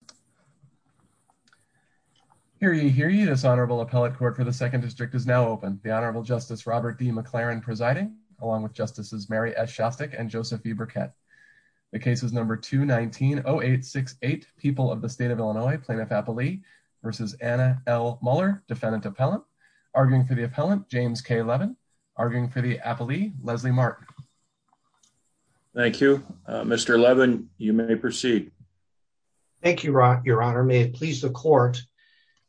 v. Anna L. Mueller, defendant-appellant, arguing for the appellant James K. Levin, arguing for the appellee Leslie Mark. Thank you. Mr. Levin, you may proceed. Thank you, Your Honor. May it please the court,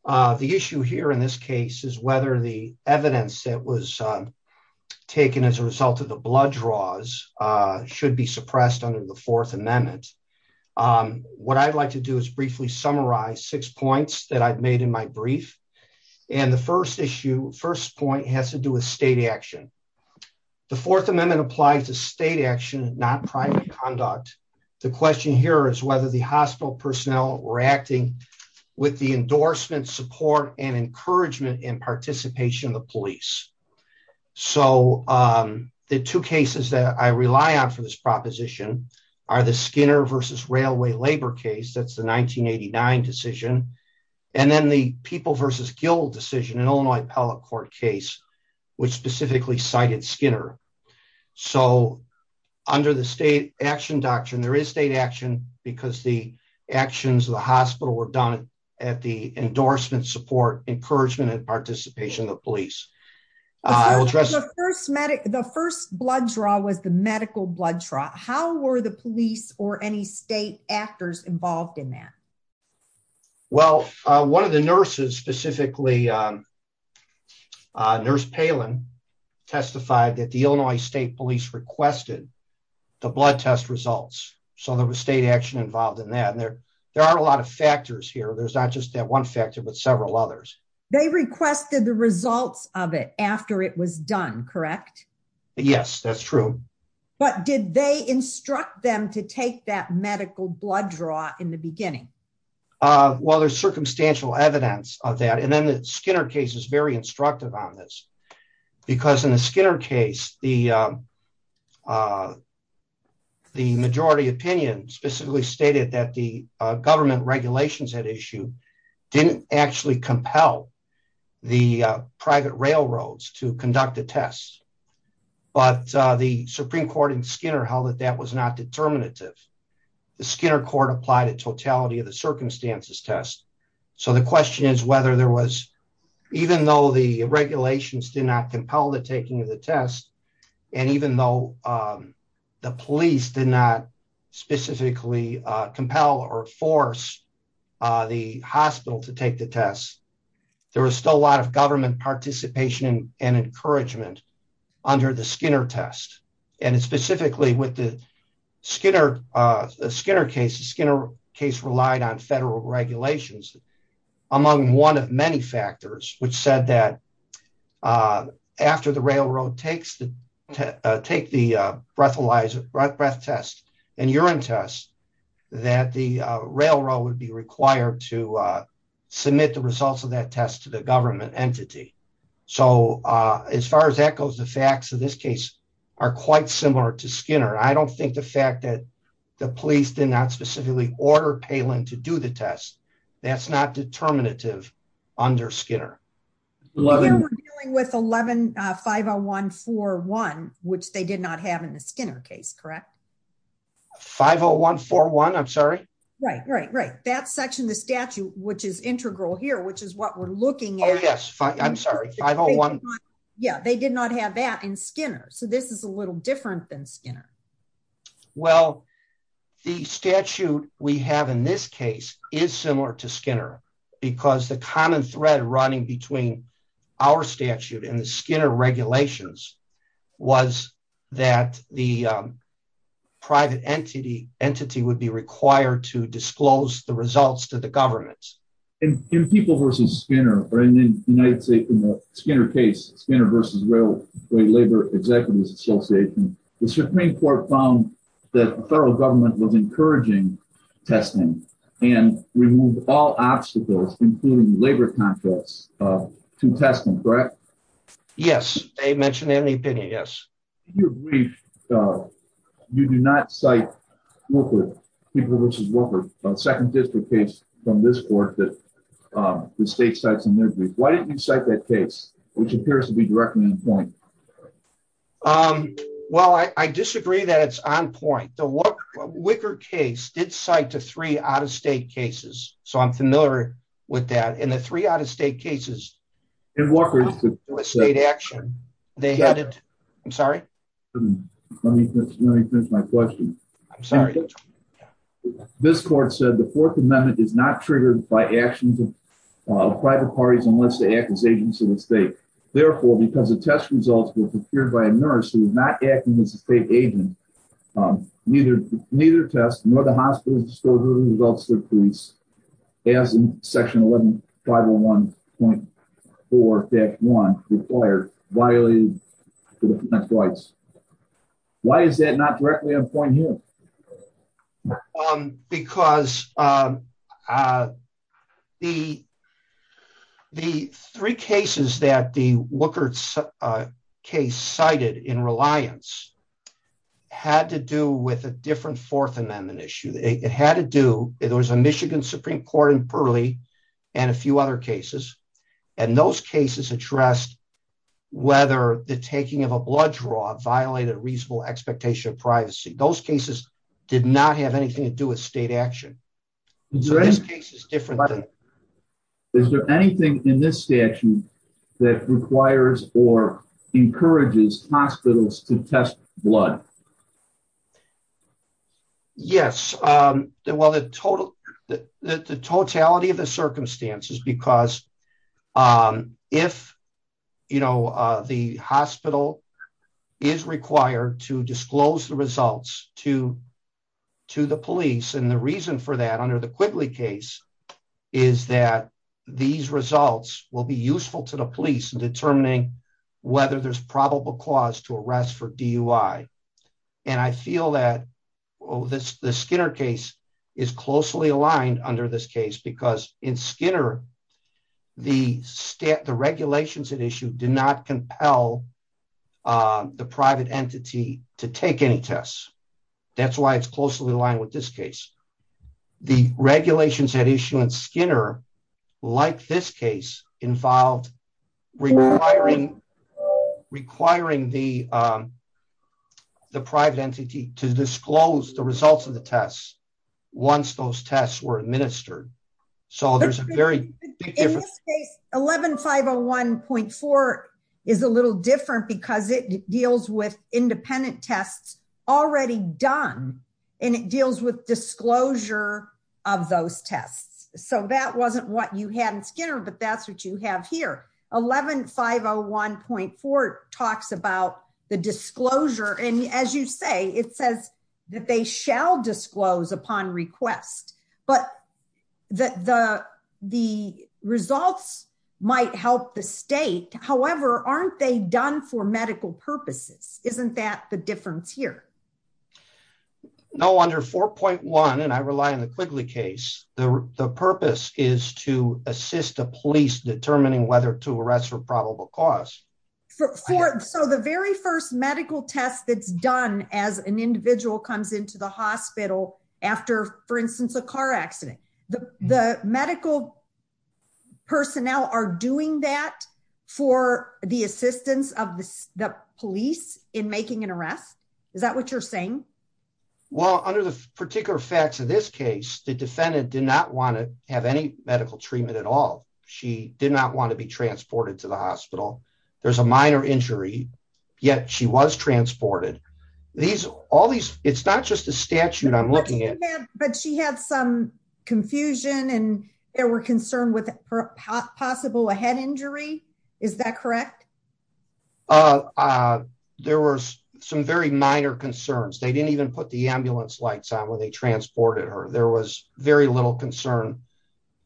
the issue here in this case is whether the evidence that was taken as a result of the blood draws should be suppressed under the Fourth Amendment. What I'd like to do is briefly summarize six points that I've made in my brief. And the first issue, first point has to do with state action. The Fourth Amendment applies to state action, not private conduct. The question here is whether the hospital personnel were acting with the endorsement, support and encouragement in participation of the police. So, the two cases that I rely on for this proposition are the Skinner v. Railway Labor case, that's the 1989 decision. And then the People v. Guild decision, an Illinois appellate court case, which specifically cited Skinner. So, under the state action doctrine, there is state action because the actions of the hospital were done at the endorsement, support, encouragement and participation of the police. The first blood draw was the medical blood draw. How were the police or any state actors involved in that? Well, one of the nurses specifically, Nurse Palin, testified that the Illinois State Police requested the blood test results. So, there was state action involved in that. There are a lot of factors here. There's not just that one factor, but several others. They requested the results of it after it was done, correct? Yes, that's true. But did they instruct them to take that medical blood draw in the beginning? Well, there's circumstantial evidence of that. And then the Skinner case is very instructive on this. Because in the Skinner case, the majority opinion specifically stated that the government regulations had issued didn't actually compel the private railroads to conduct the tests. But the Supreme Court in Skinner held that that was not determinative. The Skinner court applied a totality of the circumstances test. So, the question is whether there was, even though the regulations did not compel the taking of the test, and even though the police did not specifically compel or force the hospital to take the test, there was still a lot of government participation and encouragement under the Skinner test. And specifically with the Skinner case, the Skinner case relied on federal regulations, among one of many factors, which said that after the railroad takes the breath test and urine test, that the railroad would be required to submit the results of that test to the government entity. So, as far as that goes, the facts of this case are quite similar to Skinner. I don't think the fact that the police did not specifically order Palin to do the test, that's not determinative under Skinner. We're dealing with 50141, which they did not have in the Skinner case, correct? 50141, I'm sorry? Right, right, right. That section of the statute, which is integral here, which is what we're looking at. Yes, I'm sorry, 50141. Yeah, they did not have that in Skinner, so this is a little different than Skinner. Well, the statute we have in this case is similar to Skinner, because the common thread running between our statute and the Skinner regulations was that the private entity would be required to disclose the results to the government. In the Skinner case, Skinner v. Railway Labor Executives Association, the Supreme Court found that the federal government was encouraging testing and removed all obstacles, including labor contracts, to testing, correct? Yes, they mentioned that in the opinion, yes. In your brief, you do not cite Wicker v. Wicker, a second district case from this court that the state cites in their brief. Why didn't you cite that case, which appears to be directly on point? Well, I disagree that it's on point. The Wicker case did cite the three out-of-state cases, so I'm familiar with that. In the three out-of-state cases, the state action, they added, I'm sorry? Let me finish my question. I'm sorry. This court said the Fourth Amendment is not triggered by actions of private parties unless they act as agents of the state. Because the three cases that the Wicker case cited in Reliance had to do with a different Fourth Amendment issue. It had to do, there was a Michigan Supreme Court in Pearly and a few other cases, and those cases addressed whether the taking of a blood draw violated reasonable expectation of privacy. Those cases did not have anything to do with state action. Is there anything in this statute that requires or encourages hospitals to test blood? Yes. The totality of the circumstances, because if the hospital is required to disclose the results to the police, and the reason for that under the Quigley case is that these results will be useful to the police in determining whether there's probable cause to arrest for DUI. And I feel that the Skinner case is closely aligned under this case because in Skinner, the regulations at issue did not compel the private entity to take any tests. That's why it's closely aligned with this case. The regulations at issue in Skinner, like this case, involved requiring the private entity to disclose the results of the tests once those tests were administered. In this case, 11501.4 is a little different because it deals with independent tests already done, and it deals with disclosure of those tests. So that wasn't what you had in Skinner, but that's what you have here. 11501.4 talks about the disclosure, and as you say, it says that they shall disclose upon request. But the results might help the state. However, aren't they done for medical purposes? Isn't that the difference here? No, under 4.1, and I rely on the Quigley case, the purpose is to assist the police determining whether to arrest for probable cause. So the very first medical test that's done as an individual comes into the hospital after, for instance, a car accident, the medical personnel are doing that for the assistance of the police in making an arrest? Is that what you're saying? Well, under the particular facts of this case, the defendant did not want to have any medical treatment at all. She did not want to be transported to the hospital. There's a minor injury, yet she was transported. It's not just a statute I'm looking at. But she had some confusion, and they were concerned with possible a head injury. Is that correct? There were some very minor concerns. They didn't even put the ambulance lights on when they transported her. There was very little concern.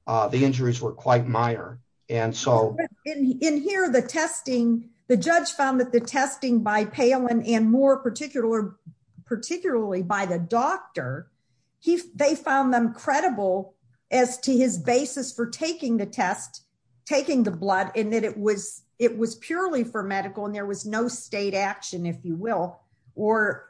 The injuries were quite minor. In here, the testing, the judge found that the testing by Palin and more particularly by the doctor, they found them credible as to his basis for taking the test, taking the blood, and that it was purely for medical, and there was no state action, if you will, or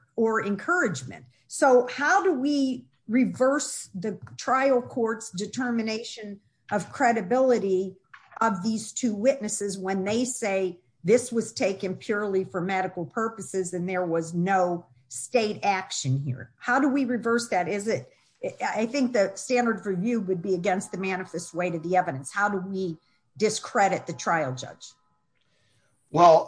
encouragement. So how do we reverse the trial court's determination of credibility of these two witnesses when they say this was taken purely for medical purposes and there was no state action here? How do we reverse that? I think the standard for you would be against the manifest way to the evidence. How do we discredit the trial judge? Well,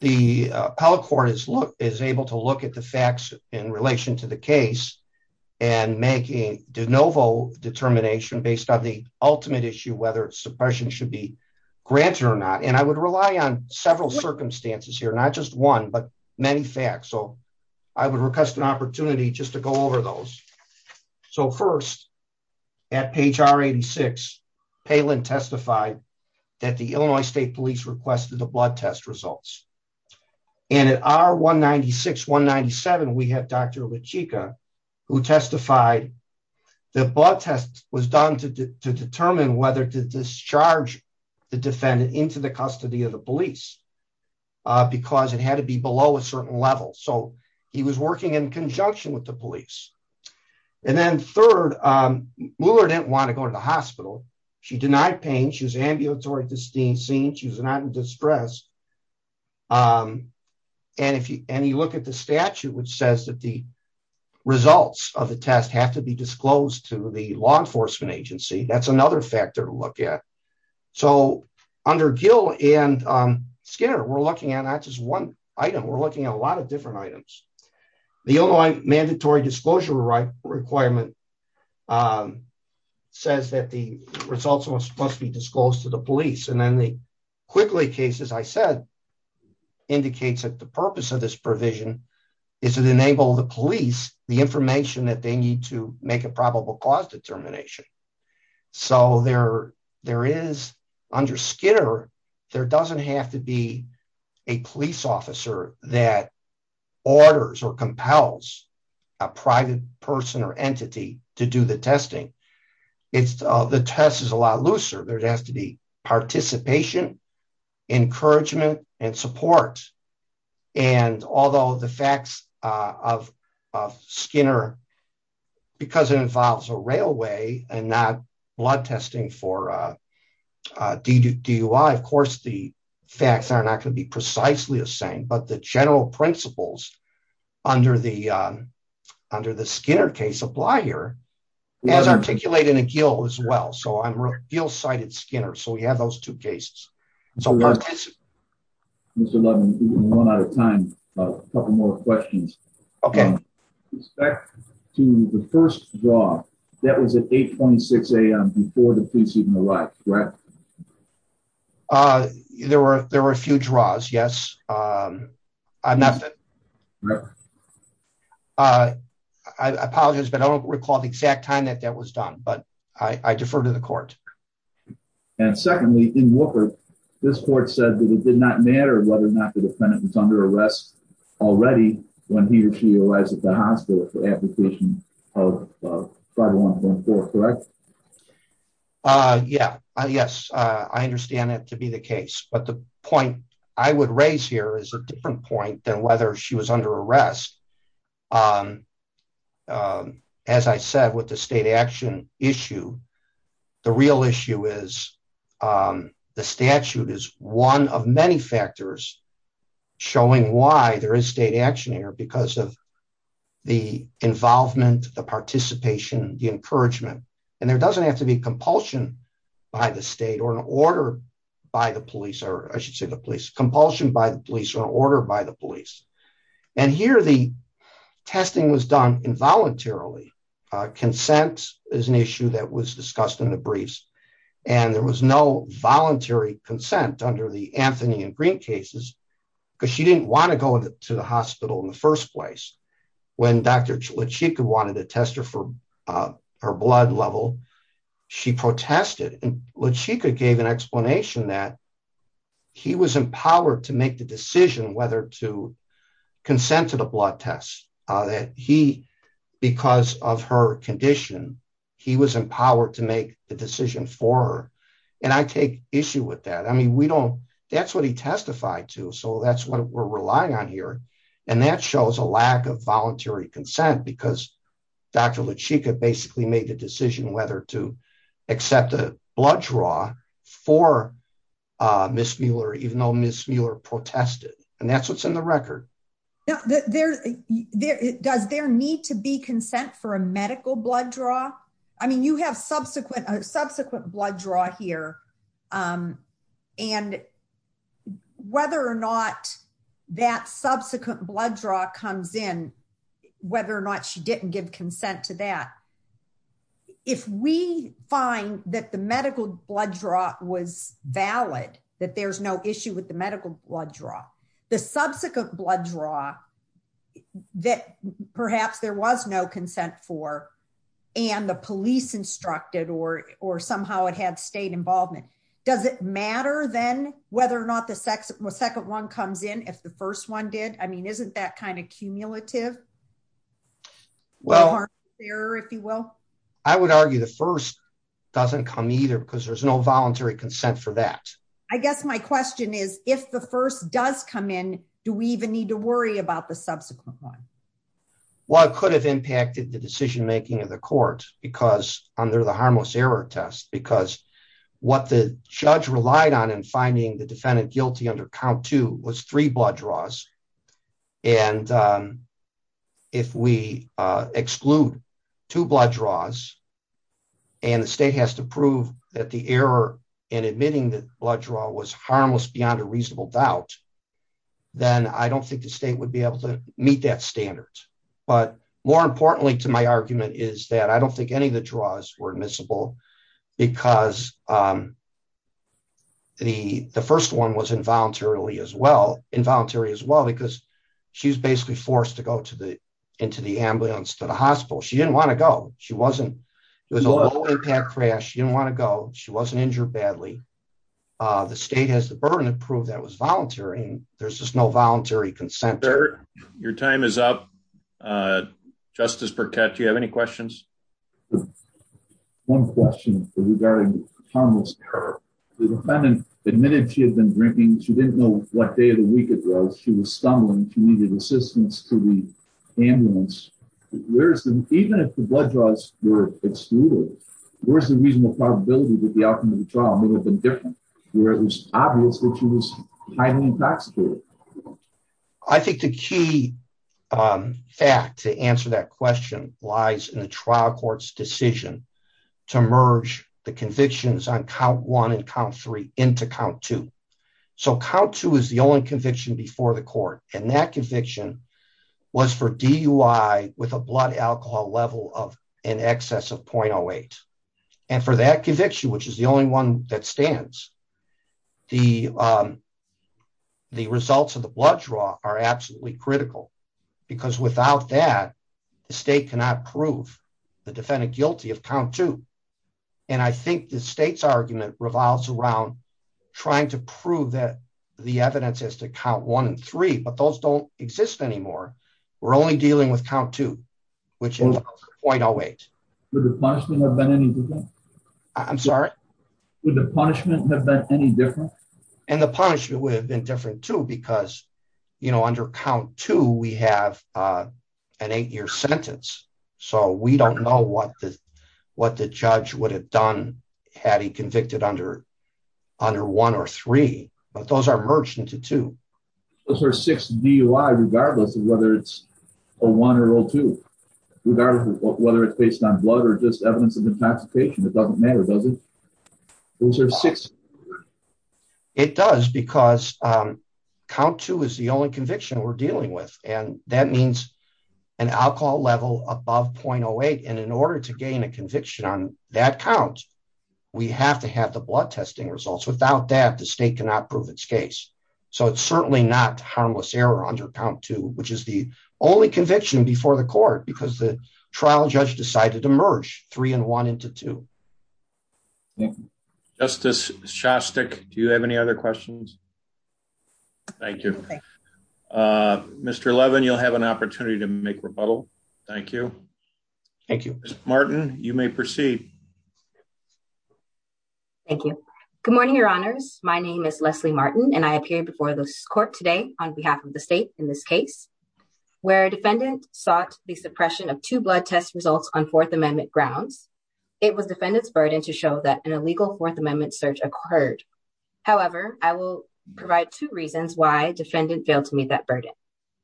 the appellate court is able to look at the facts in relation to the case and make a de novo determination based on the ultimate issue, whether suppression should be granted or not. And I would rely on several circumstances here, not just one, but many facts. So I would request an opportunity just to go over those. So first, at page R86, Palin testified that the Illinois State Police requested the blood test results. And at R196-197, we have Dr. Lechika, who testified that blood test was done to determine whether to discharge the defendant into the custody of the police, because it had to be below a certain level. So he was working in conjunction with the police. And then third, Mueller didn't want to go to the hospital. She denied pain. She was ambulatory to be seen. She was not in distress. And you look at the statute, which says that the results of the test have to be disclosed to the law enforcement agency. That's another factor to look at. So under Gill and Skinner, we're looking at not just one item. We're looking at a lot of different items. The Illinois mandatory disclosure requirement says that the results must be disclosed to the police. And then the Quickly case, as I said, indicates that the purpose of this provision is to enable the police the information that they need to make a probable cause determination. So there is, under Skinner, there doesn't have to be a police officer that orders or compels a private person or entity to do the testing. The test is a lot looser. There has to be participation, encouragement, and support. And although the facts of Skinner, because it involves a railway and not blood testing for DUI, of course, the facts are not going to be precisely the same. But the general principles under the Skinner case apply here, as articulated in Gill as well. So Gill cited Skinner. So we have those two cases. Mr. Levin, we've run out of time. A couple more questions. Okay. With respect to the first draw, that was at 8.6 a.m. before the police even arrived, correct? There were a few draws, yes. I apologize, but I don't recall the exact time that that was done. But I defer to the court. And secondly, in Walker, this court said that it did not matter whether or not the defendant was under arrest already when he or she arrives at the hospital for application of 5114, correct? Yes, I understand that to be the case. But the point I would raise here is a different point than whether she was under arrest. As I said, with the state action issue, the real issue is the statute is one of many factors showing why there is state action here because of the involvement, the participation, the encouragement. And there doesn't have to be compulsion by the state or an order by the police, or I should say the police, compulsion by the police or an order by the police. And here the testing was done involuntarily. Consent is an issue that was discussed in the briefs, and there was no voluntary consent under the Anthony and Green cases because she didn't want to go to the hospital in the first place. When Dr. Lachika wanted to test her for her blood level, she protested. And Lachika gave an explanation that he was empowered to make the decision whether to consent to the blood test that he, because of her condition, he was empowered to make the decision for her. And I take issue with that. I mean, we don't, that's what he testified to. So that's what we're relying on here. And that shows a lack of voluntary consent because Dr. Lachika basically made the decision whether to accept a blood draw for Ms. Mueller, even though Ms. Mueller protested. And that's what's in the record. Does there need to be consent for a medical blood draw? I mean, you have subsequent blood draw here. And whether or not that subsequent blood draw comes in, whether or not she didn't give consent to that, if we find that the medical blood draw was valid, that there's no issue with the medical blood draw. The subsequent blood draw that perhaps there was no consent for, and the police instructed or somehow it had state involvement, does it matter then whether or not the second one comes in if the first one did? I mean, isn't that kind of cumulative? Well, I would argue the first doesn't come either because there's no voluntary consent for that. I guess my question is, if the first does come in, do we even need to worry about the subsequent one? Well, it could have impacted the decision making of the court because under the harmless error test, because what the judge relied on in finding the defendant guilty under count two was three blood draws. And if we exclude two blood draws and the state has to prove that the error in admitting that blood draw was harmless beyond a reasonable doubt, then I don't think the state would be able to meet that standard. But more importantly to my argument is that I don't think any of the draws were admissible because the first one was involuntary as well because she was basically forced to go into the ambulance to the hospital. She didn't want to go. It was a low impact crash. She didn't want to go. She wasn't injured badly. The state has the burden to prove that was voluntary. There's just no voluntary consent. Your time is up. Justice Burkett, do you have any questions? One question regarding harmless error. The defendant admitted she had been drinking. She didn't know what day of the week it was. She was stumbling. She needed assistance to the ambulance. Even if the blood draws were excluded, where's the reasonable probability that the outcome of the trial may have been different? It was obvious that she was highly intoxicated. I think the key fact to answer that question lies in the trial court's decision to merge the convictions on count one and count three into count two. So count two is the only conviction before the court. And that conviction was for DUI with a blood alcohol level of in excess of .08. And for that conviction, which is the only one that stands, the results of the blood draw are absolutely critical. Because without that, the state cannot prove the defendant guilty of count two. And I think the state's argument revolves around trying to prove that the evidence is to count one and three, but those don't exist anymore. We're only dealing with count two, which is .08. Would the punishment have been any different? I'm sorry? Would the punishment have been any different? And the punishment would have been different, too, because, you know, under count two, we have an eight-year sentence. So we don't know what the judge would have done had he convicted under one or three. But those are merged into two. Those are six DUI, regardless of whether it's a one or a two, regardless of whether it's based on blood or just evidence of intoxication. It doesn't matter, does it? Those are six. It does, because count two is the only conviction we're dealing with, and that means an alcohol level above .08. And in order to gain a conviction on that count, we have to have the blood testing results. Without that, the state cannot prove its case. So it's certainly not harmless error under count two, which is the only conviction before the court, because the trial judge decided to merge three and one into two. Justice Shostak, do you have any other questions? Thank you. Mr. Levin, you'll have an opportunity to make rebuttal. Thank you. Thank you. Ms. Martin, you may proceed. Thank you. Good morning, Your Honors. My name is Leslie Martin, and I appear before this court today on behalf of the state in this case. Where a defendant sought the suppression of two blood test results on Fourth Amendment grounds, it was defendant's burden to show that an illegal Fourth Amendment search occurred. However, I will provide two reasons why defendant failed to meet that burden.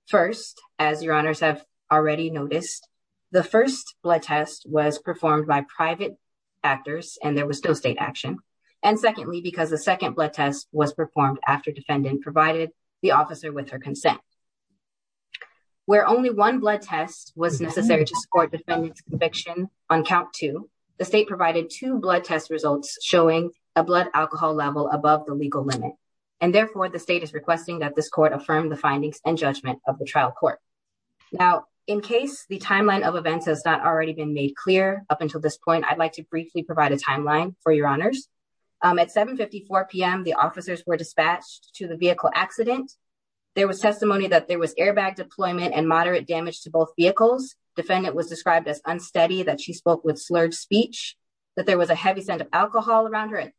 First, as Your Honors have already noticed, the first blood test was performed by private actors, and there was no state action. And secondly, because the second blood test was performed after defendant provided the officer with her consent. Where only one blood test was necessary to support defendant's conviction on count two, the state provided two blood test results showing a blood alcohol level above the legal limit. And therefore, the state is requesting that this court affirm the findings and judgment of the trial court. Now, in case the timeline of events has not already been made clear up until this point, I'd like to briefly provide a timeline for Your Honors. At 7.54 p.m., the officers were dispatched to the vehicle accident. There was testimony that there was airbag deployment and moderate damage to both vehicles. Defendant was described as unsteady, that she spoke with slurred speech, that there was a heavy scent of alcohol around her,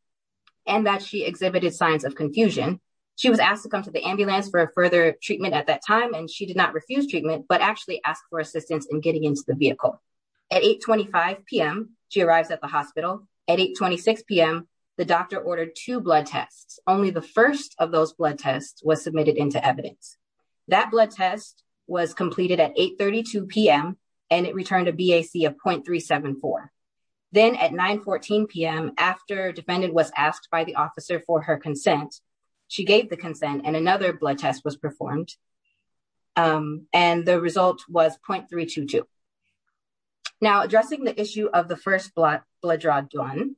and that she exhibited signs of confusion. She was asked to come to the ambulance for further treatment at that time, and she did not refuse treatment, but actually asked for assistance in getting into the vehicle. At 8.25 p.m., she arrives at the hospital. At 8.26 p.m., the doctor ordered two blood tests. Only the first of those blood tests was submitted into evidence. That blood test was completed at 8.32 p.m., and it returned a BAC of .374. Then at 9.14 p.m., after defendant was asked by the officer for her consent, she gave the consent, and another blood test was performed, and the result was .322. Now, addressing the issue of the first blood draw done,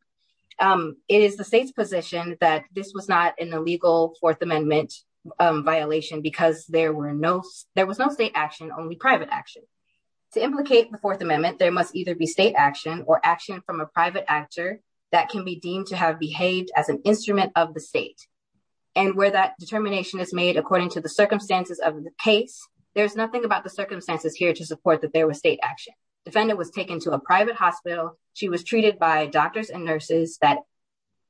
it is the state's position that this was not an illegal Fourth Amendment violation because there was no state action, only private action. To implicate the Fourth Amendment, there must either be state action or action from a private actor that can be deemed to have behaved as an instrument of the state. And where that determination is made according to the circumstances of the case, there's nothing about the circumstances here to support that there was state action. Defendant was taken to a private hospital. She was treated by doctors and nurses that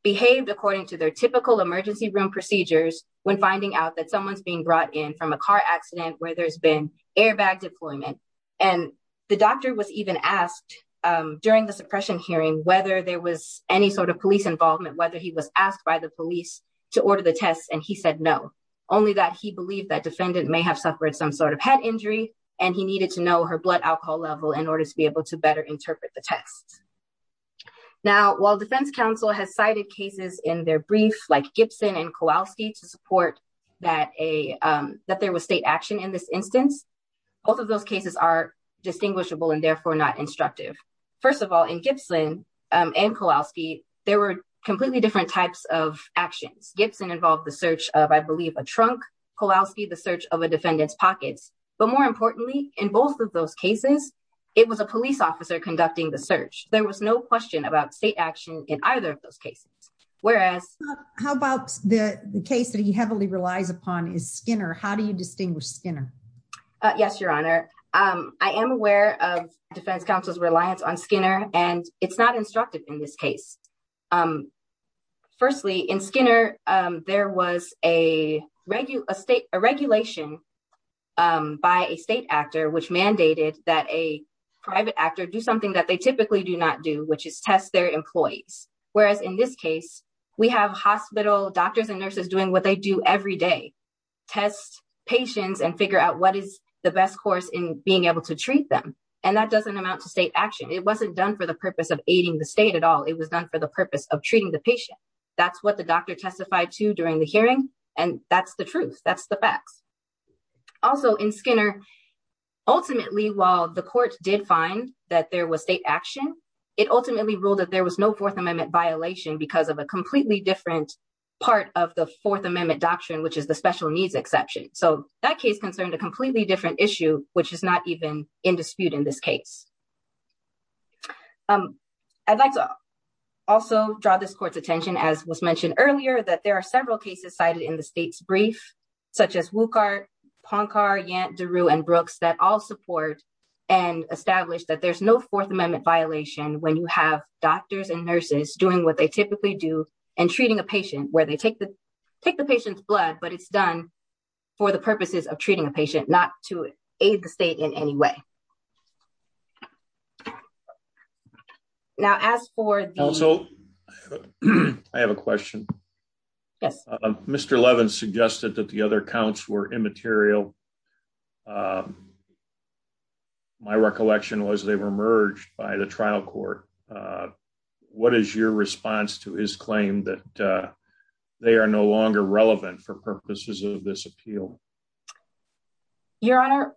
behaved according to their typical emergency room procedures when finding out that someone's being brought in from a car accident where there's been airbag deployment. And the doctor was even asked during the suppression hearing whether there was any sort of police involvement, whether he was asked by the police to order the tests, and he said no. Only that he believed that defendant may have suffered some sort of head injury, and he needed to know her blood alcohol level in order to be able to better interpret the tests. Now, while Defense Counsel has cited cases in their brief, like Gibson and Kowalski, to support that there was state action in this instance, both of those cases are distinguishable and therefore not instructive. First of all, in Gibson and Kowalski, there were completely different types of actions. Gibson involved the search of, I believe, a trunk. Kowalski, the search of a defendant's pockets. But more importantly, in both of those cases, it was a police officer conducting the search. There was no question about state action in either of those cases. How about the case that he heavily relies upon is Skinner. How do you distinguish Skinner? Yes, Your Honor. I am aware of Defense Counsel's reliance on Skinner, and it's not instructive in this case. Firstly, in Skinner, there was a regulation by a state actor which mandated that a private actor do something that they typically do not do, which is test their employees. Whereas in this case, we have hospital doctors and nurses doing what they do every day, test patients and figure out what is the best course in being able to treat them. And that doesn't amount to state action. It wasn't done for the purpose of aiding the state at all. It was done for the purpose of treating the patient. That's what the doctor testified to during the hearing. And that's the truth. That's the facts. Also in Skinner, ultimately, while the court did find that there was state action, it ultimately ruled that there was no Fourth Amendment violation because of a completely different part of the Fourth Amendment doctrine, which is the special needs exception. So that case concerned a completely different issue, which is not even in dispute in this case. I'd like to also draw this court's attention, as was mentioned earlier, that there are several cases cited in the state's brief, such as Wuchart, Poncar, Yant, DeRue and Brooks that all support and establish that there's no Fourth Amendment violation when you have doctors and nurses doing what they typically do and treating a patient where they take the patient's blood, but it's done for the purposes of treating a patient, not to aid the state in any way. Now, as for... Also, I have a question. Yes. Mr. Levin suggested that the other counts were immaterial. My recollection was they were merged by the trial court. What is your response to his claim that they are no longer relevant for purposes of this appeal? Your Honor,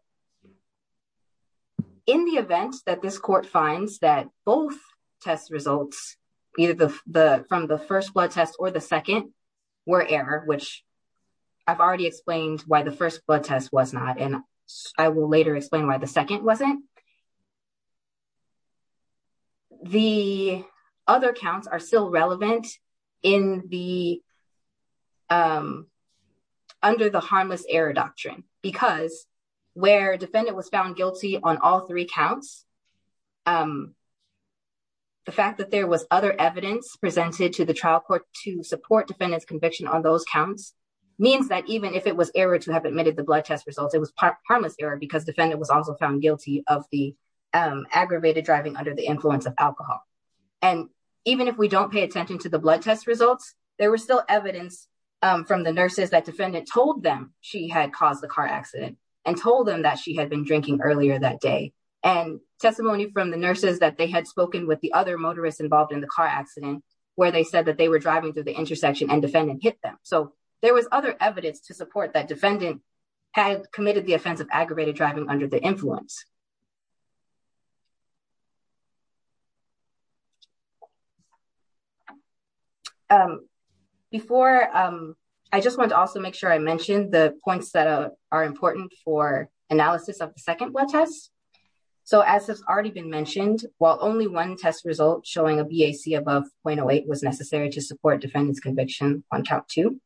in the event that this court finds that both test results, either from the first blood test or the second, were error, which I've already explained why the first blood test was not, and I will later explain why the second wasn't. The other counts are still relevant under the harmless error doctrine, because where defendant was found guilty on all three counts, the fact that there was other evidence presented to the trial court to support defendant's conviction on those counts means that even if it was error to have admitted the blood test results, it was harmless error because defendant was also found guilty of those counts. The other counts are still relevant under the harmless error doctrine, because where defendant was found guilty on all three counts, the fact that there was other evidence presented to the trial court to support defendant's conviction on those counts means that even if it was error to have admitted the blood test results, it was harmless error because defendant was also found guilty on those counts. Before, I just want to also make sure I mentioned the points that are important for analysis of the second blood test. So as has already been mentioned, while only one test result showing a BAC above 0.08 was necessary to support defendant's conviction on count two,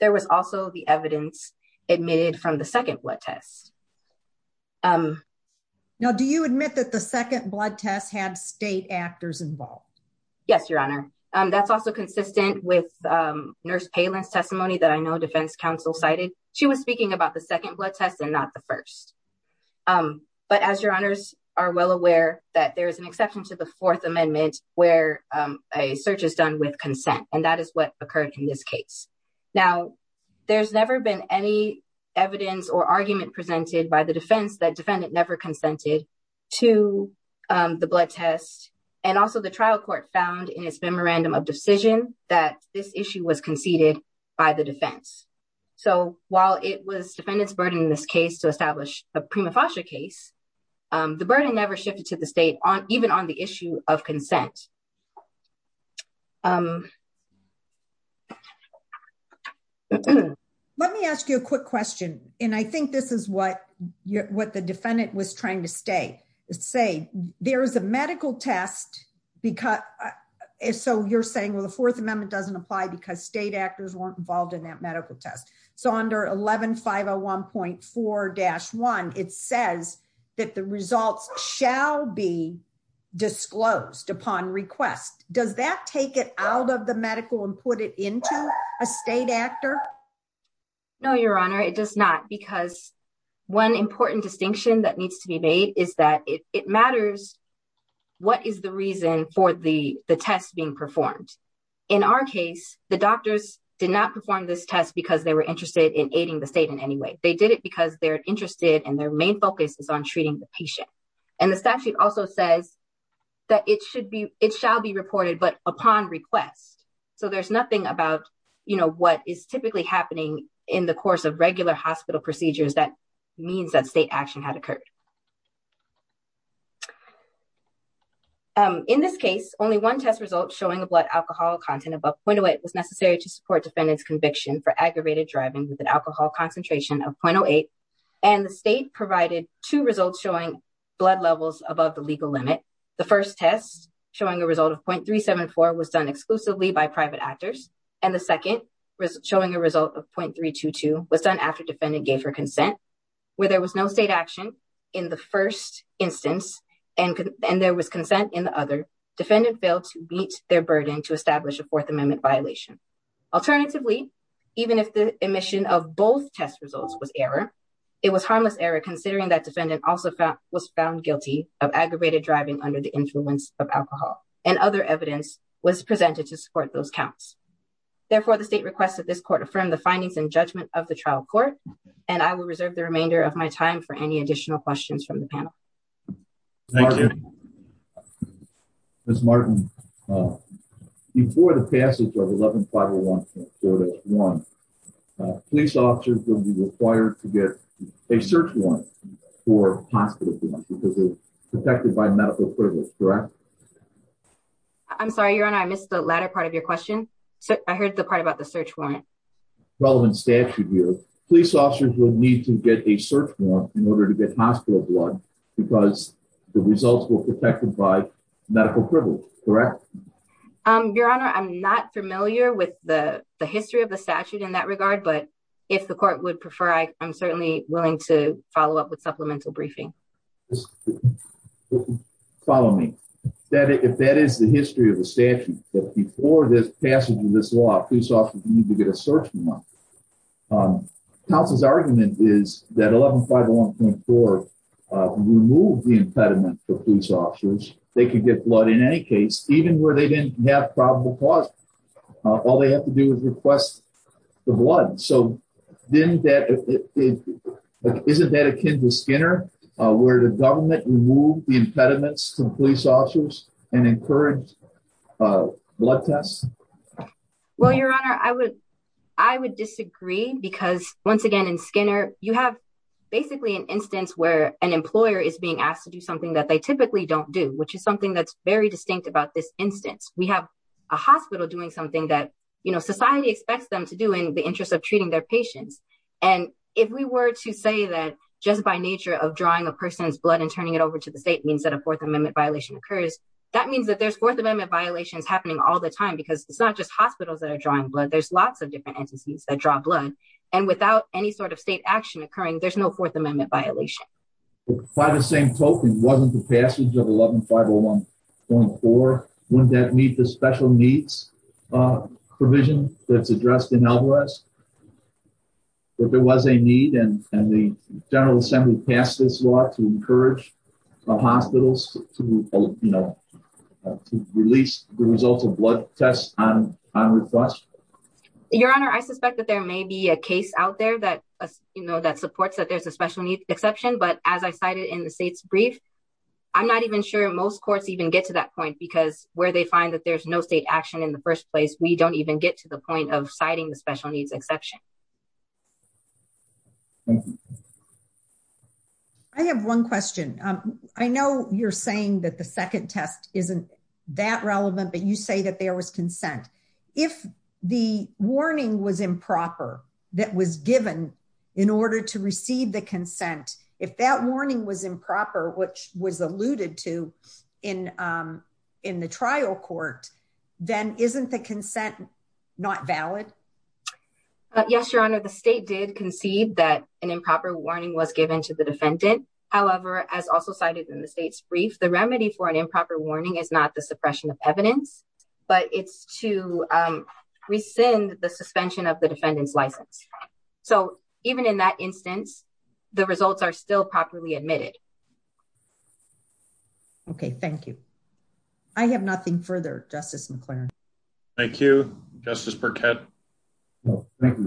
there was also the evidence admitted from the second blood test. Now, do you admit that the second blood test had state actors involved? Yes, Your Honor. That's also consistent with Nurse Palin's testimony that I know defense counsel cited. She was speaking about the second blood test and not the first. But as Your Honors are well aware that there is an exception to the Fourth Amendment where a search is done with consent, and that is what occurred in this case. Now, there's never been any evidence or argument presented by the defense that defendant never consented to the blood test. And also the trial court found in its memorandum of decision that this issue was conceded by the defense. So while it was defendant's burden in this case to establish a prima facie case, the burden never shifted to the state on even on the issue of consent. Let me ask you a quick question, and I think this is what the defendant was trying to say. There is a medical test, so you're saying, well, the Fourth Amendment doesn't apply because state actors weren't involved in that medical test. So under 11501.4-1, it says that the results shall be disclosed upon request. Does that take it out of the medical and put it into a state actor? No, Your Honor, it does not, because one important distinction that needs to be made is that it matters what is the reason for the test being performed. In our case, the doctors did not perform this test because they were interested in aiding the state in any way. They did it because they're interested and their main focus is on treating the patient. And the statute also says that it should be it shall be reported, but upon request. So there's nothing about, you know, what is typically happening in the course of regular hospital procedures. That means that state action had occurred. In this case, only one test result showing a blood alcohol content above 0.08 was necessary to support defendant's conviction for aggravated driving with an alcohol concentration of 0.08. And the state provided two results showing blood levels above the legal limit. The first test showing a result of 0.374 was done exclusively by private actors. And the second showing a result of 0.322 was done after defendant gave her consent. Where there was no state action in the first instance and there was consent in the other, defendant failed to meet their burden to establish a Fourth Amendment violation. Alternatively, even if the omission of both test results was error, it was harmless error, considering that defendant also was found guilty of aggravated driving under the influence of alcohol and other evidence was presented to support those counts. Therefore, the state requested this court affirm the findings and judgment of the trial court. And I will reserve the remainder of my time for any additional questions from the panel. Thank you. Ms. Martin, before the passage of 11501.1, police officers will be required to get a search warrant for hospital blood because it's protected by medical privilege, correct? I'm sorry, Your Honor, I missed the latter part of your question. I heard the part about the search warrant. Relevant statute here, police officers will need to get a search warrant in order to get hospital blood because the results were protected by medical privilege, correct? Your Honor, I'm not familiar with the history of the statute in that regard. But if the court would prefer, I am certainly willing to follow up with supplemental briefing. Follow me. If that is the history of the statute, that before this passage of this law, police officers need to get a search warrant. Counsel's argument is that 11501.4 removed the impediment for police officers. They could get blood in any case, even where they didn't have probable cause. All they have to do is request the blood. Isn't that akin to Skinner, where the government removed the impediments to police officers and encouraged blood tests? Well, Your Honor, I would disagree because, once again, in Skinner, you have basically an instance where an employer is being asked to do something that they typically don't do, which is something that's very distinct about this instance. We have a hospital doing something that society expects them to do in the interest of treating their patients. And if we were to say that just by nature of drawing a person's blood and turning it over to the state means that a Fourth Amendment violation occurs, that means that there's Fourth Amendment violations happening all the time because it's not just hospitals that are drawing blood. There's lots of different entities that draw blood. And without any sort of state action occurring, there's no Fourth Amendment violation. By the same token, wasn't the passage of 11501.4, wouldn't that meet the special needs provision that's addressed in Alvarez? If there was a need and the General Assembly passed this law to encourage hospitals to release the results of blood tests on request? Your Honor, I suspect that there may be a case out there that supports that there's a special needs exception. But as I cited in the state's brief, I'm not even sure most courts even get to that point because where they find that there's no state action in the first place, we don't even get to the point of citing the special needs exception. I have one question. I know you're saying that the second test isn't that relevant, but you say that there was consent. If the warning was improper that was given in order to receive the consent, if that warning was improper, which was alluded to in the trial court, then isn't the consent not valid? Yes, Your Honor, the state did concede that an improper warning was given to the defendant. However, as also cited in the state's brief, the remedy for an improper warning is not the suppression of evidence, but it's to rescind the suspension of the defendant's license. So even in that instance, the results are still properly admitted. Okay, thank you. I have nothing further, Justice McLaren. Thank you, Justice Burkett. Thank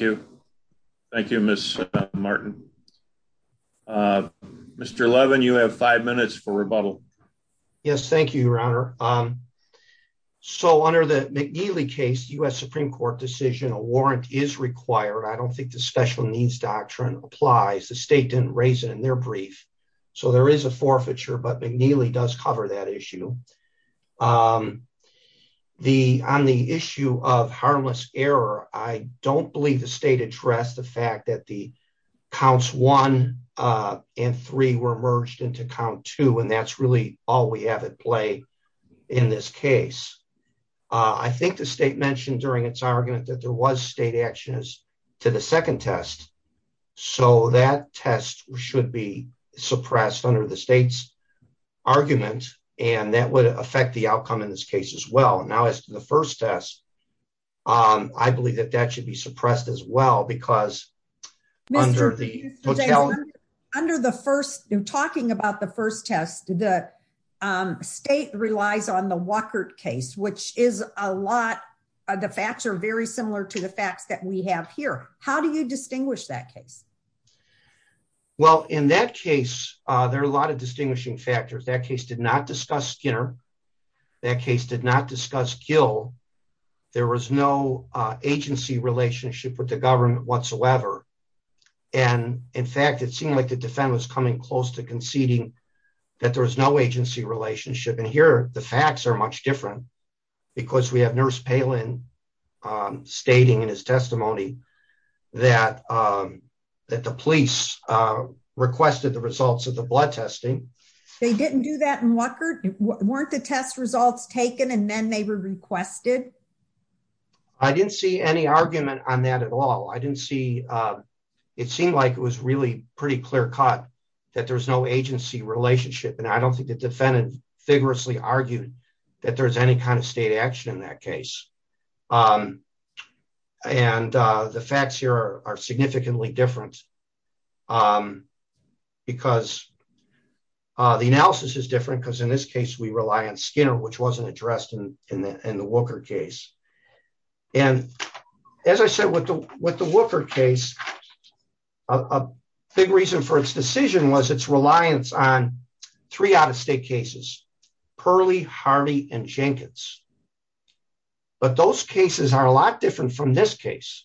you. Thank you, Ms. Martin. Mr. Levin, you have five minutes for rebuttal. Yes, thank you, Your Honor. So under the McNeely case, U.S. Supreme Court decision, a warrant is required. I don't think the special needs doctrine applies. The state didn't raise it in their brief. So there is a forfeiture, but McNeely does cover that issue. On the issue of harmless error, I don't believe the state addressed the fact that the counts one and three were merged into count two, and that's really all we have at play in this case. I think the state mentioned during its argument that there was state actions to the second test. So that test should be suppressed under the state's argument, and that would affect the outcome in this case as well. Now, as to the first test, I believe that that should be suppressed as well, because under the hotel. Under the first, talking about the first test, the state relies on the Walker case, which is a lot of the facts are very similar to the facts that we have here. How do you distinguish that case? Well, in that case, there are a lot of distinguishing factors. That case did not discuss Skinner. That case did not discuss Gil. There was no agency relationship with the government whatsoever. And in fact, it seemed like the defendant was coming close to conceding that there was no agency relationship. And here, the facts are much different because we have nurse Palin stating in his testimony that the police requested the results of the blood testing. They didn't do that in Walker? Weren't the test results taken and then they were requested? I didn't see any argument on that at all. I didn't see it seemed like it was really pretty clear cut that there's no agency relationship. And I don't think the defendant vigorously argued that there's any kind of state action in that case. And the facts here are significantly different because the analysis is different, because in this case we rely on Skinner, which wasn't addressed in the Walker case. And as I said, with the Walker case, a big reason for its decision was its reliance on three out-of-state cases, Perley, Harvey and Jenkins. But those cases are a lot different from this case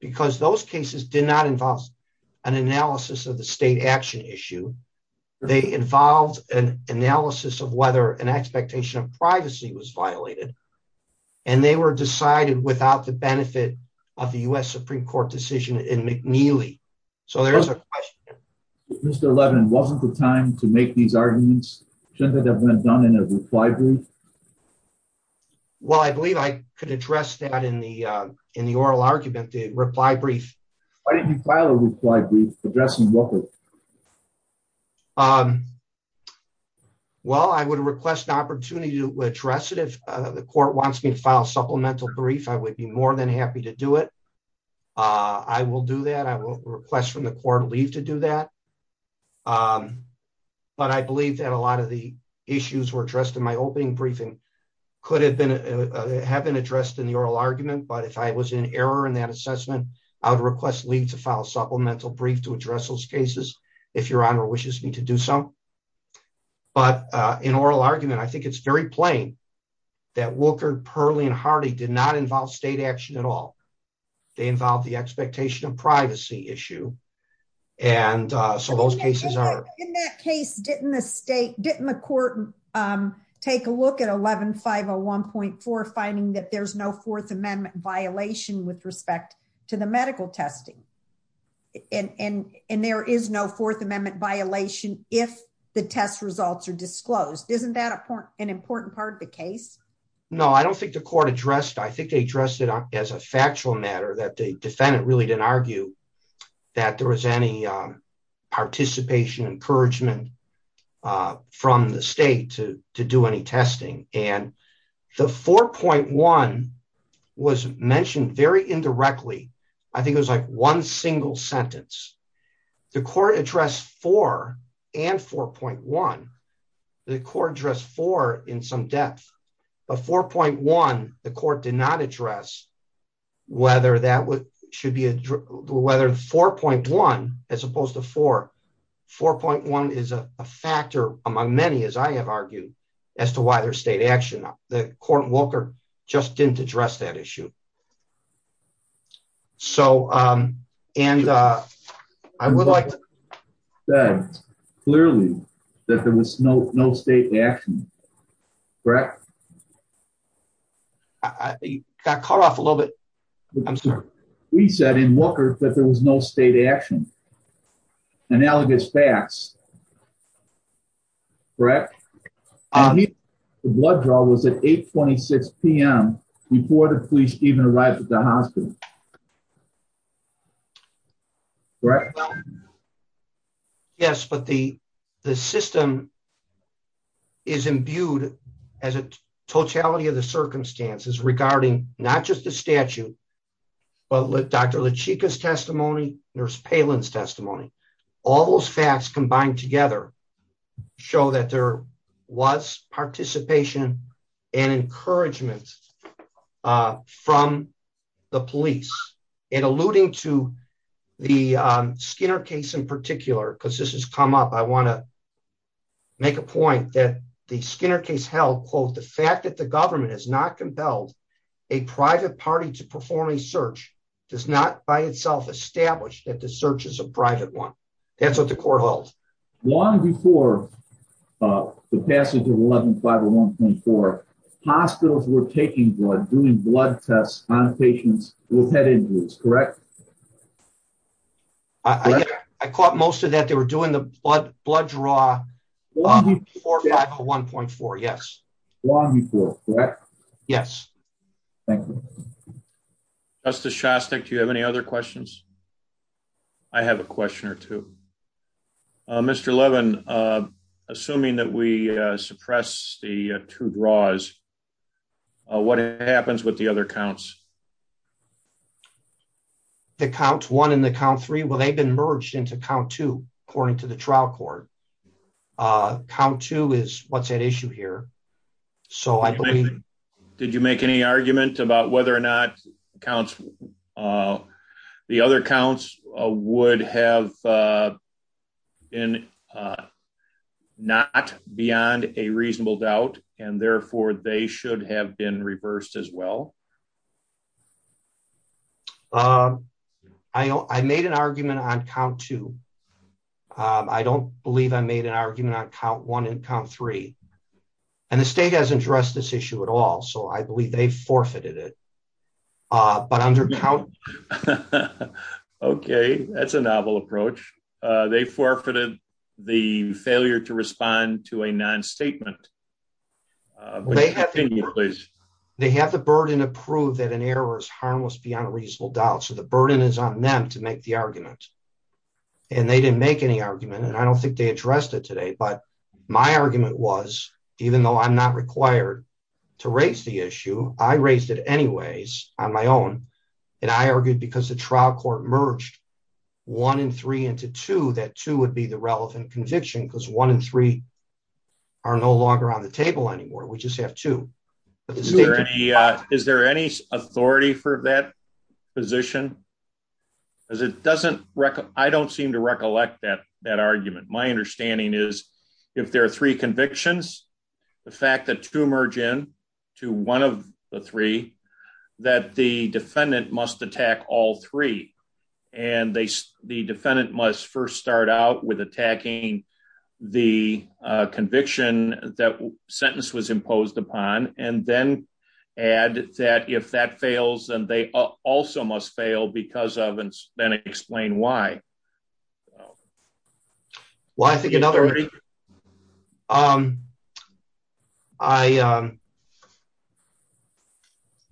because those cases did not involve an analysis of the state action issue. They involved an analysis of whether an expectation of privacy was violated. And they were decided without the benefit of the U.S. Supreme Court decision in McNeely. So there is a question. Mr. Levin, wasn't the time to make these arguments? Shouldn't that have been done in a reply brief? Well, I believe I could address that in the in the oral argument, the reply brief. Why didn't you file a reply brief addressing Walker? Well, I would request the opportunity to address it if the court wants me to file a supplemental brief, I would be more than happy to do it. I will do that. I will request from the court leave to do that. But I believe that a lot of the issues were addressed in my opening briefing could have been have been addressed in the oral argument. But if I was in error in that assessment, I would request leave to file supplemental brief to address those cases. If your honor wishes me to do some. But in oral argument, I think it's very plain that Walker, Pearly and Hardy did not involve state action at all. They involve the expectation of privacy issue. And so those cases are in that case. Didn't the state didn't the court take a look at eleven five or one point four, finding that there's no Fourth Amendment violation with respect to the medical testing? And there is no Fourth Amendment violation if the test results are disclosed. Isn't that an important part of the case? No, I don't think the court addressed. I think they addressed it as a factual matter that the defendant really didn't argue that there was any participation encouragement from the state to to do any testing. And the four point one was mentioned very indirectly. I think it was like one single sentence. The court addressed four and four point one. The court addressed four in some depth of four point one. The court did not address whether that should be whether four point one as opposed to four four point one is a factor among many, as I have argued as to why their state action. The court Walker just didn't address that issue. So and I would like that clearly that there was no no state action. Correct. I got caught off a little bit. I'm sorry. We said in Walker that there was no state action. Analogous facts. Correct. Blood draw was at 826 p.m. before the police even arrived at the hospital. Right. Yes, but the, the system is imbued as a totality of the circumstances regarding, not just the statute. But look, Dr. La Chica's testimony nurse Palin's testimony. All those facts combined together. Show that there was participation and encouragement from the police and alluding to the Skinner case in particular because this has come up I want to make a point that the Skinner case held quote the fact that the government is not compelled. A private party to perform a search does not by itself established that the search is a private one. That's what the court holds one before the passage of 11501.4 hospitals were taking blood doing blood tests on patients with head injuries. Correct. I caught most of that they were doing the blood blood draw. 1.4 Yes. Yes. Thank you. That's the shots that you have any other questions. I have a question or two. Mr Levin, assuming that we suppress the two draws. What happens with the other counts. The count one and the count three well they've been merged into count two, according to the trial court count two is what's at issue here. So I did you make any argument about whether or not accounts. The other accounts would have been not beyond a reasonable doubt, and therefore they should have been reversed as well. I made an argument on count two. I don't believe I made an argument on count one and count three, and the state has addressed this issue at all so I believe they forfeited it. But under count. Okay, that's a novel approach. They forfeited the failure to respond to a non statement. Please, they have the burden of prove that an error is harmless beyond a reasonable doubt so the burden is on them to make the argument. And they didn't make any argument and I don't think they addressed it today but my argument was, even though I'm not required to raise the issue, I raised it anyways, on my own. And I argued because the trial court merged one and three into to that to would be the relevant conviction because one and three are no longer on the table anymore we just have to. Is there any authority for that position is it doesn't record, I don't seem to recollect that that argument my understanding is, if there are three convictions. The fact that to merge in to one of the three that the defendant must attack all three, and they, the defendant must first start out with attacking the conviction that sentence was imposed upon, and then add that if that fails and they also must fail because of and then explain why. Well, I think another way. Um, I,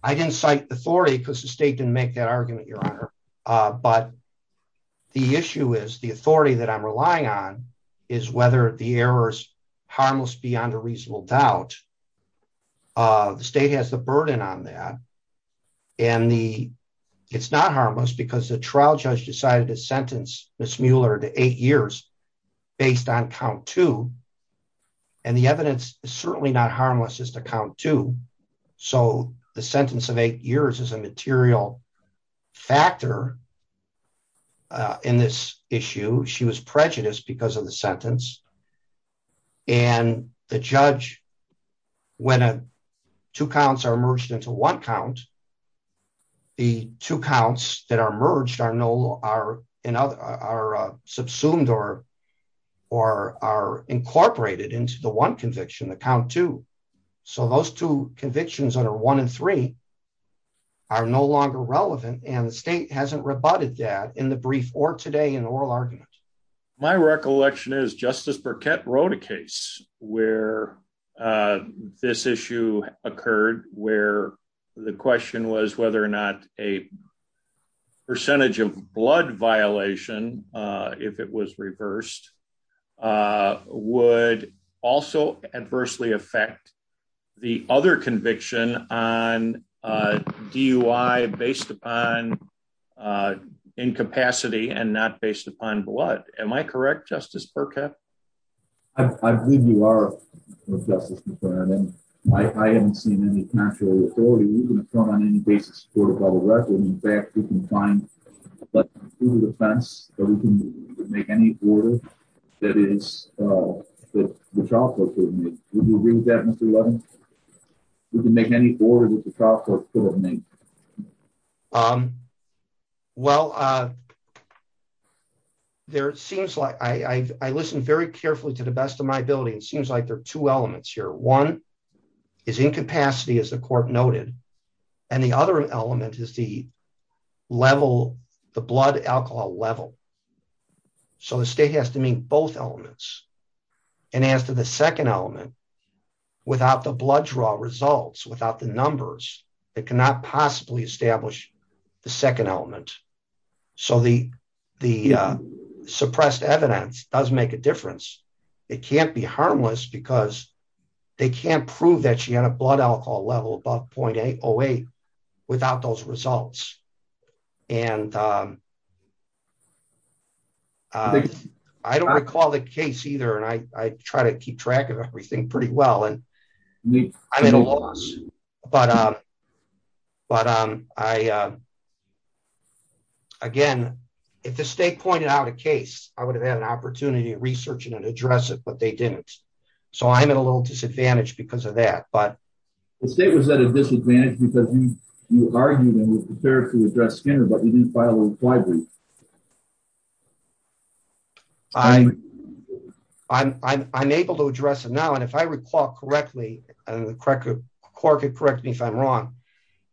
I didn't cite authority because the state didn't make that argument, Your Honor. But the issue is the authority that I'm relying on is whether the errors harmless beyond a reasonable doubt of the state has the burden on that. And the. It's not harmless because the trial judge decided to sentence this Mueller to eight years, based on count to. And the evidence is certainly not harmless is to count to. So, the sentence of eight years as a material factor. In this issue, she was prejudiced because of the sentence. And the judge. When a two counts are merged into one count. The two counts that are merged are no are in other are subsumed or, or are incorporated into the one conviction the count to. So those two convictions under one and three are no longer relevant and the state hasn't rebutted that in the brief or today in oral argument. My recollection is Justice Burkett wrote a case where this issue occurred, where the question was whether or not a percentage of blood violation. If it was reversed, would also adversely affect the other conviction on DUI based upon incapacity and not based upon blood. Am I correct Justice Burkett. I believe you are. I haven't seen any financial authority on any basis for the record, in fact, you can find the fence, or you can make any order. That is, the chocolate. Mr. We can make any board with the chocolate. Well, there seems like I listened very carefully to the best of my ability and seems like there are two elements here one is incapacity as the court noted, and the other element is the level, the blood alcohol level. So the state has to meet both elements. And as to the second element. Without the blood draw results without the numbers that cannot possibly establish the second element. So the, the suppressed evidence does make a difference. It can't be harmless because they can't prove that she had a blood alcohol level above point 808 without those results. And I don't recall the case either and I try to keep track of everything pretty well and I'm at a loss. But, um, but, um, I, again, if the state pointed out a case, I would have had an opportunity to research and address it but they didn't. So I'm at a little disadvantage because of that, but the state was at a disadvantage because you argue that was prepared to address Skinner but you didn't file a library. I, I'm able to address it now and if I recall correctly, and the corrective court could correct me if I'm wrong.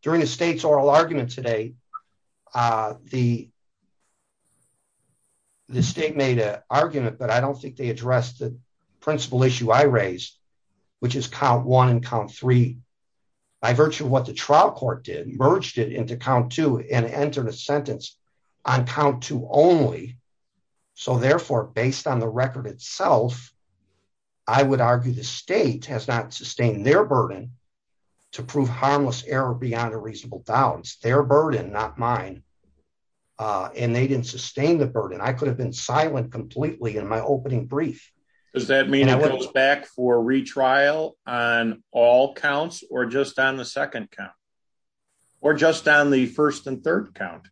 During the state's oral argument today. The, the state made a argument but I don't think they addressed the principal issue I raised, which is count one and count three, by virtue of what the trial court did merged it into count two and enter the sentence on count to only. So therefore, based on the record itself. I would argue the state has not sustained their burden to prove harmless error beyond a reasonable balance their burden not mine. And they didn't sustain the burden I could have been silent completely in my opening brief. Does that mean it was back for retrial on all counts or just on the second count, or just on the first and third count.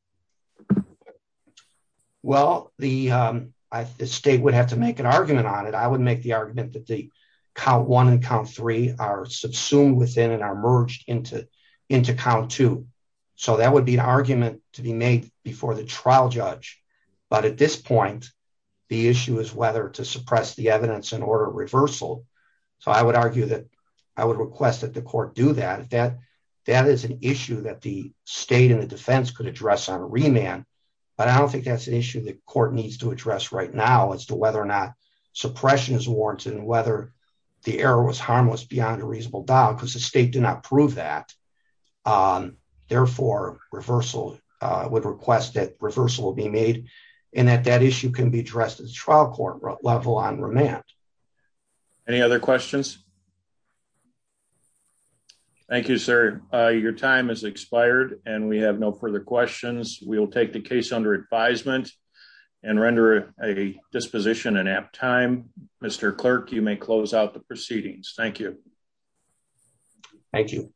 Well, the state would have to make an argument on it I would make the argument that the count one and count three are subsumed within and are merged into into count two. So that would be an argument to be made before the trial judge. But at this point, the issue is whether to suppress the evidence in order reversal. So I would argue that I would request that the court do that that that is an issue that the state and the defense could address on a remand. But I don't think that's an issue that court needs to address right now as to whether or not suppression is warranted and whether the error was harmless beyond a reasonable doubt because the state did not prove that. Therefore, reversal would request that reversal will be made, and that that issue can be addressed as trial court level on remand. Any other questions. Thank you, sir. Your time has expired, and we have no further questions, we will take the case under advisement and render a disposition and have time. Mr. Clerk, you may close out the proceedings. Thank you. Thank you.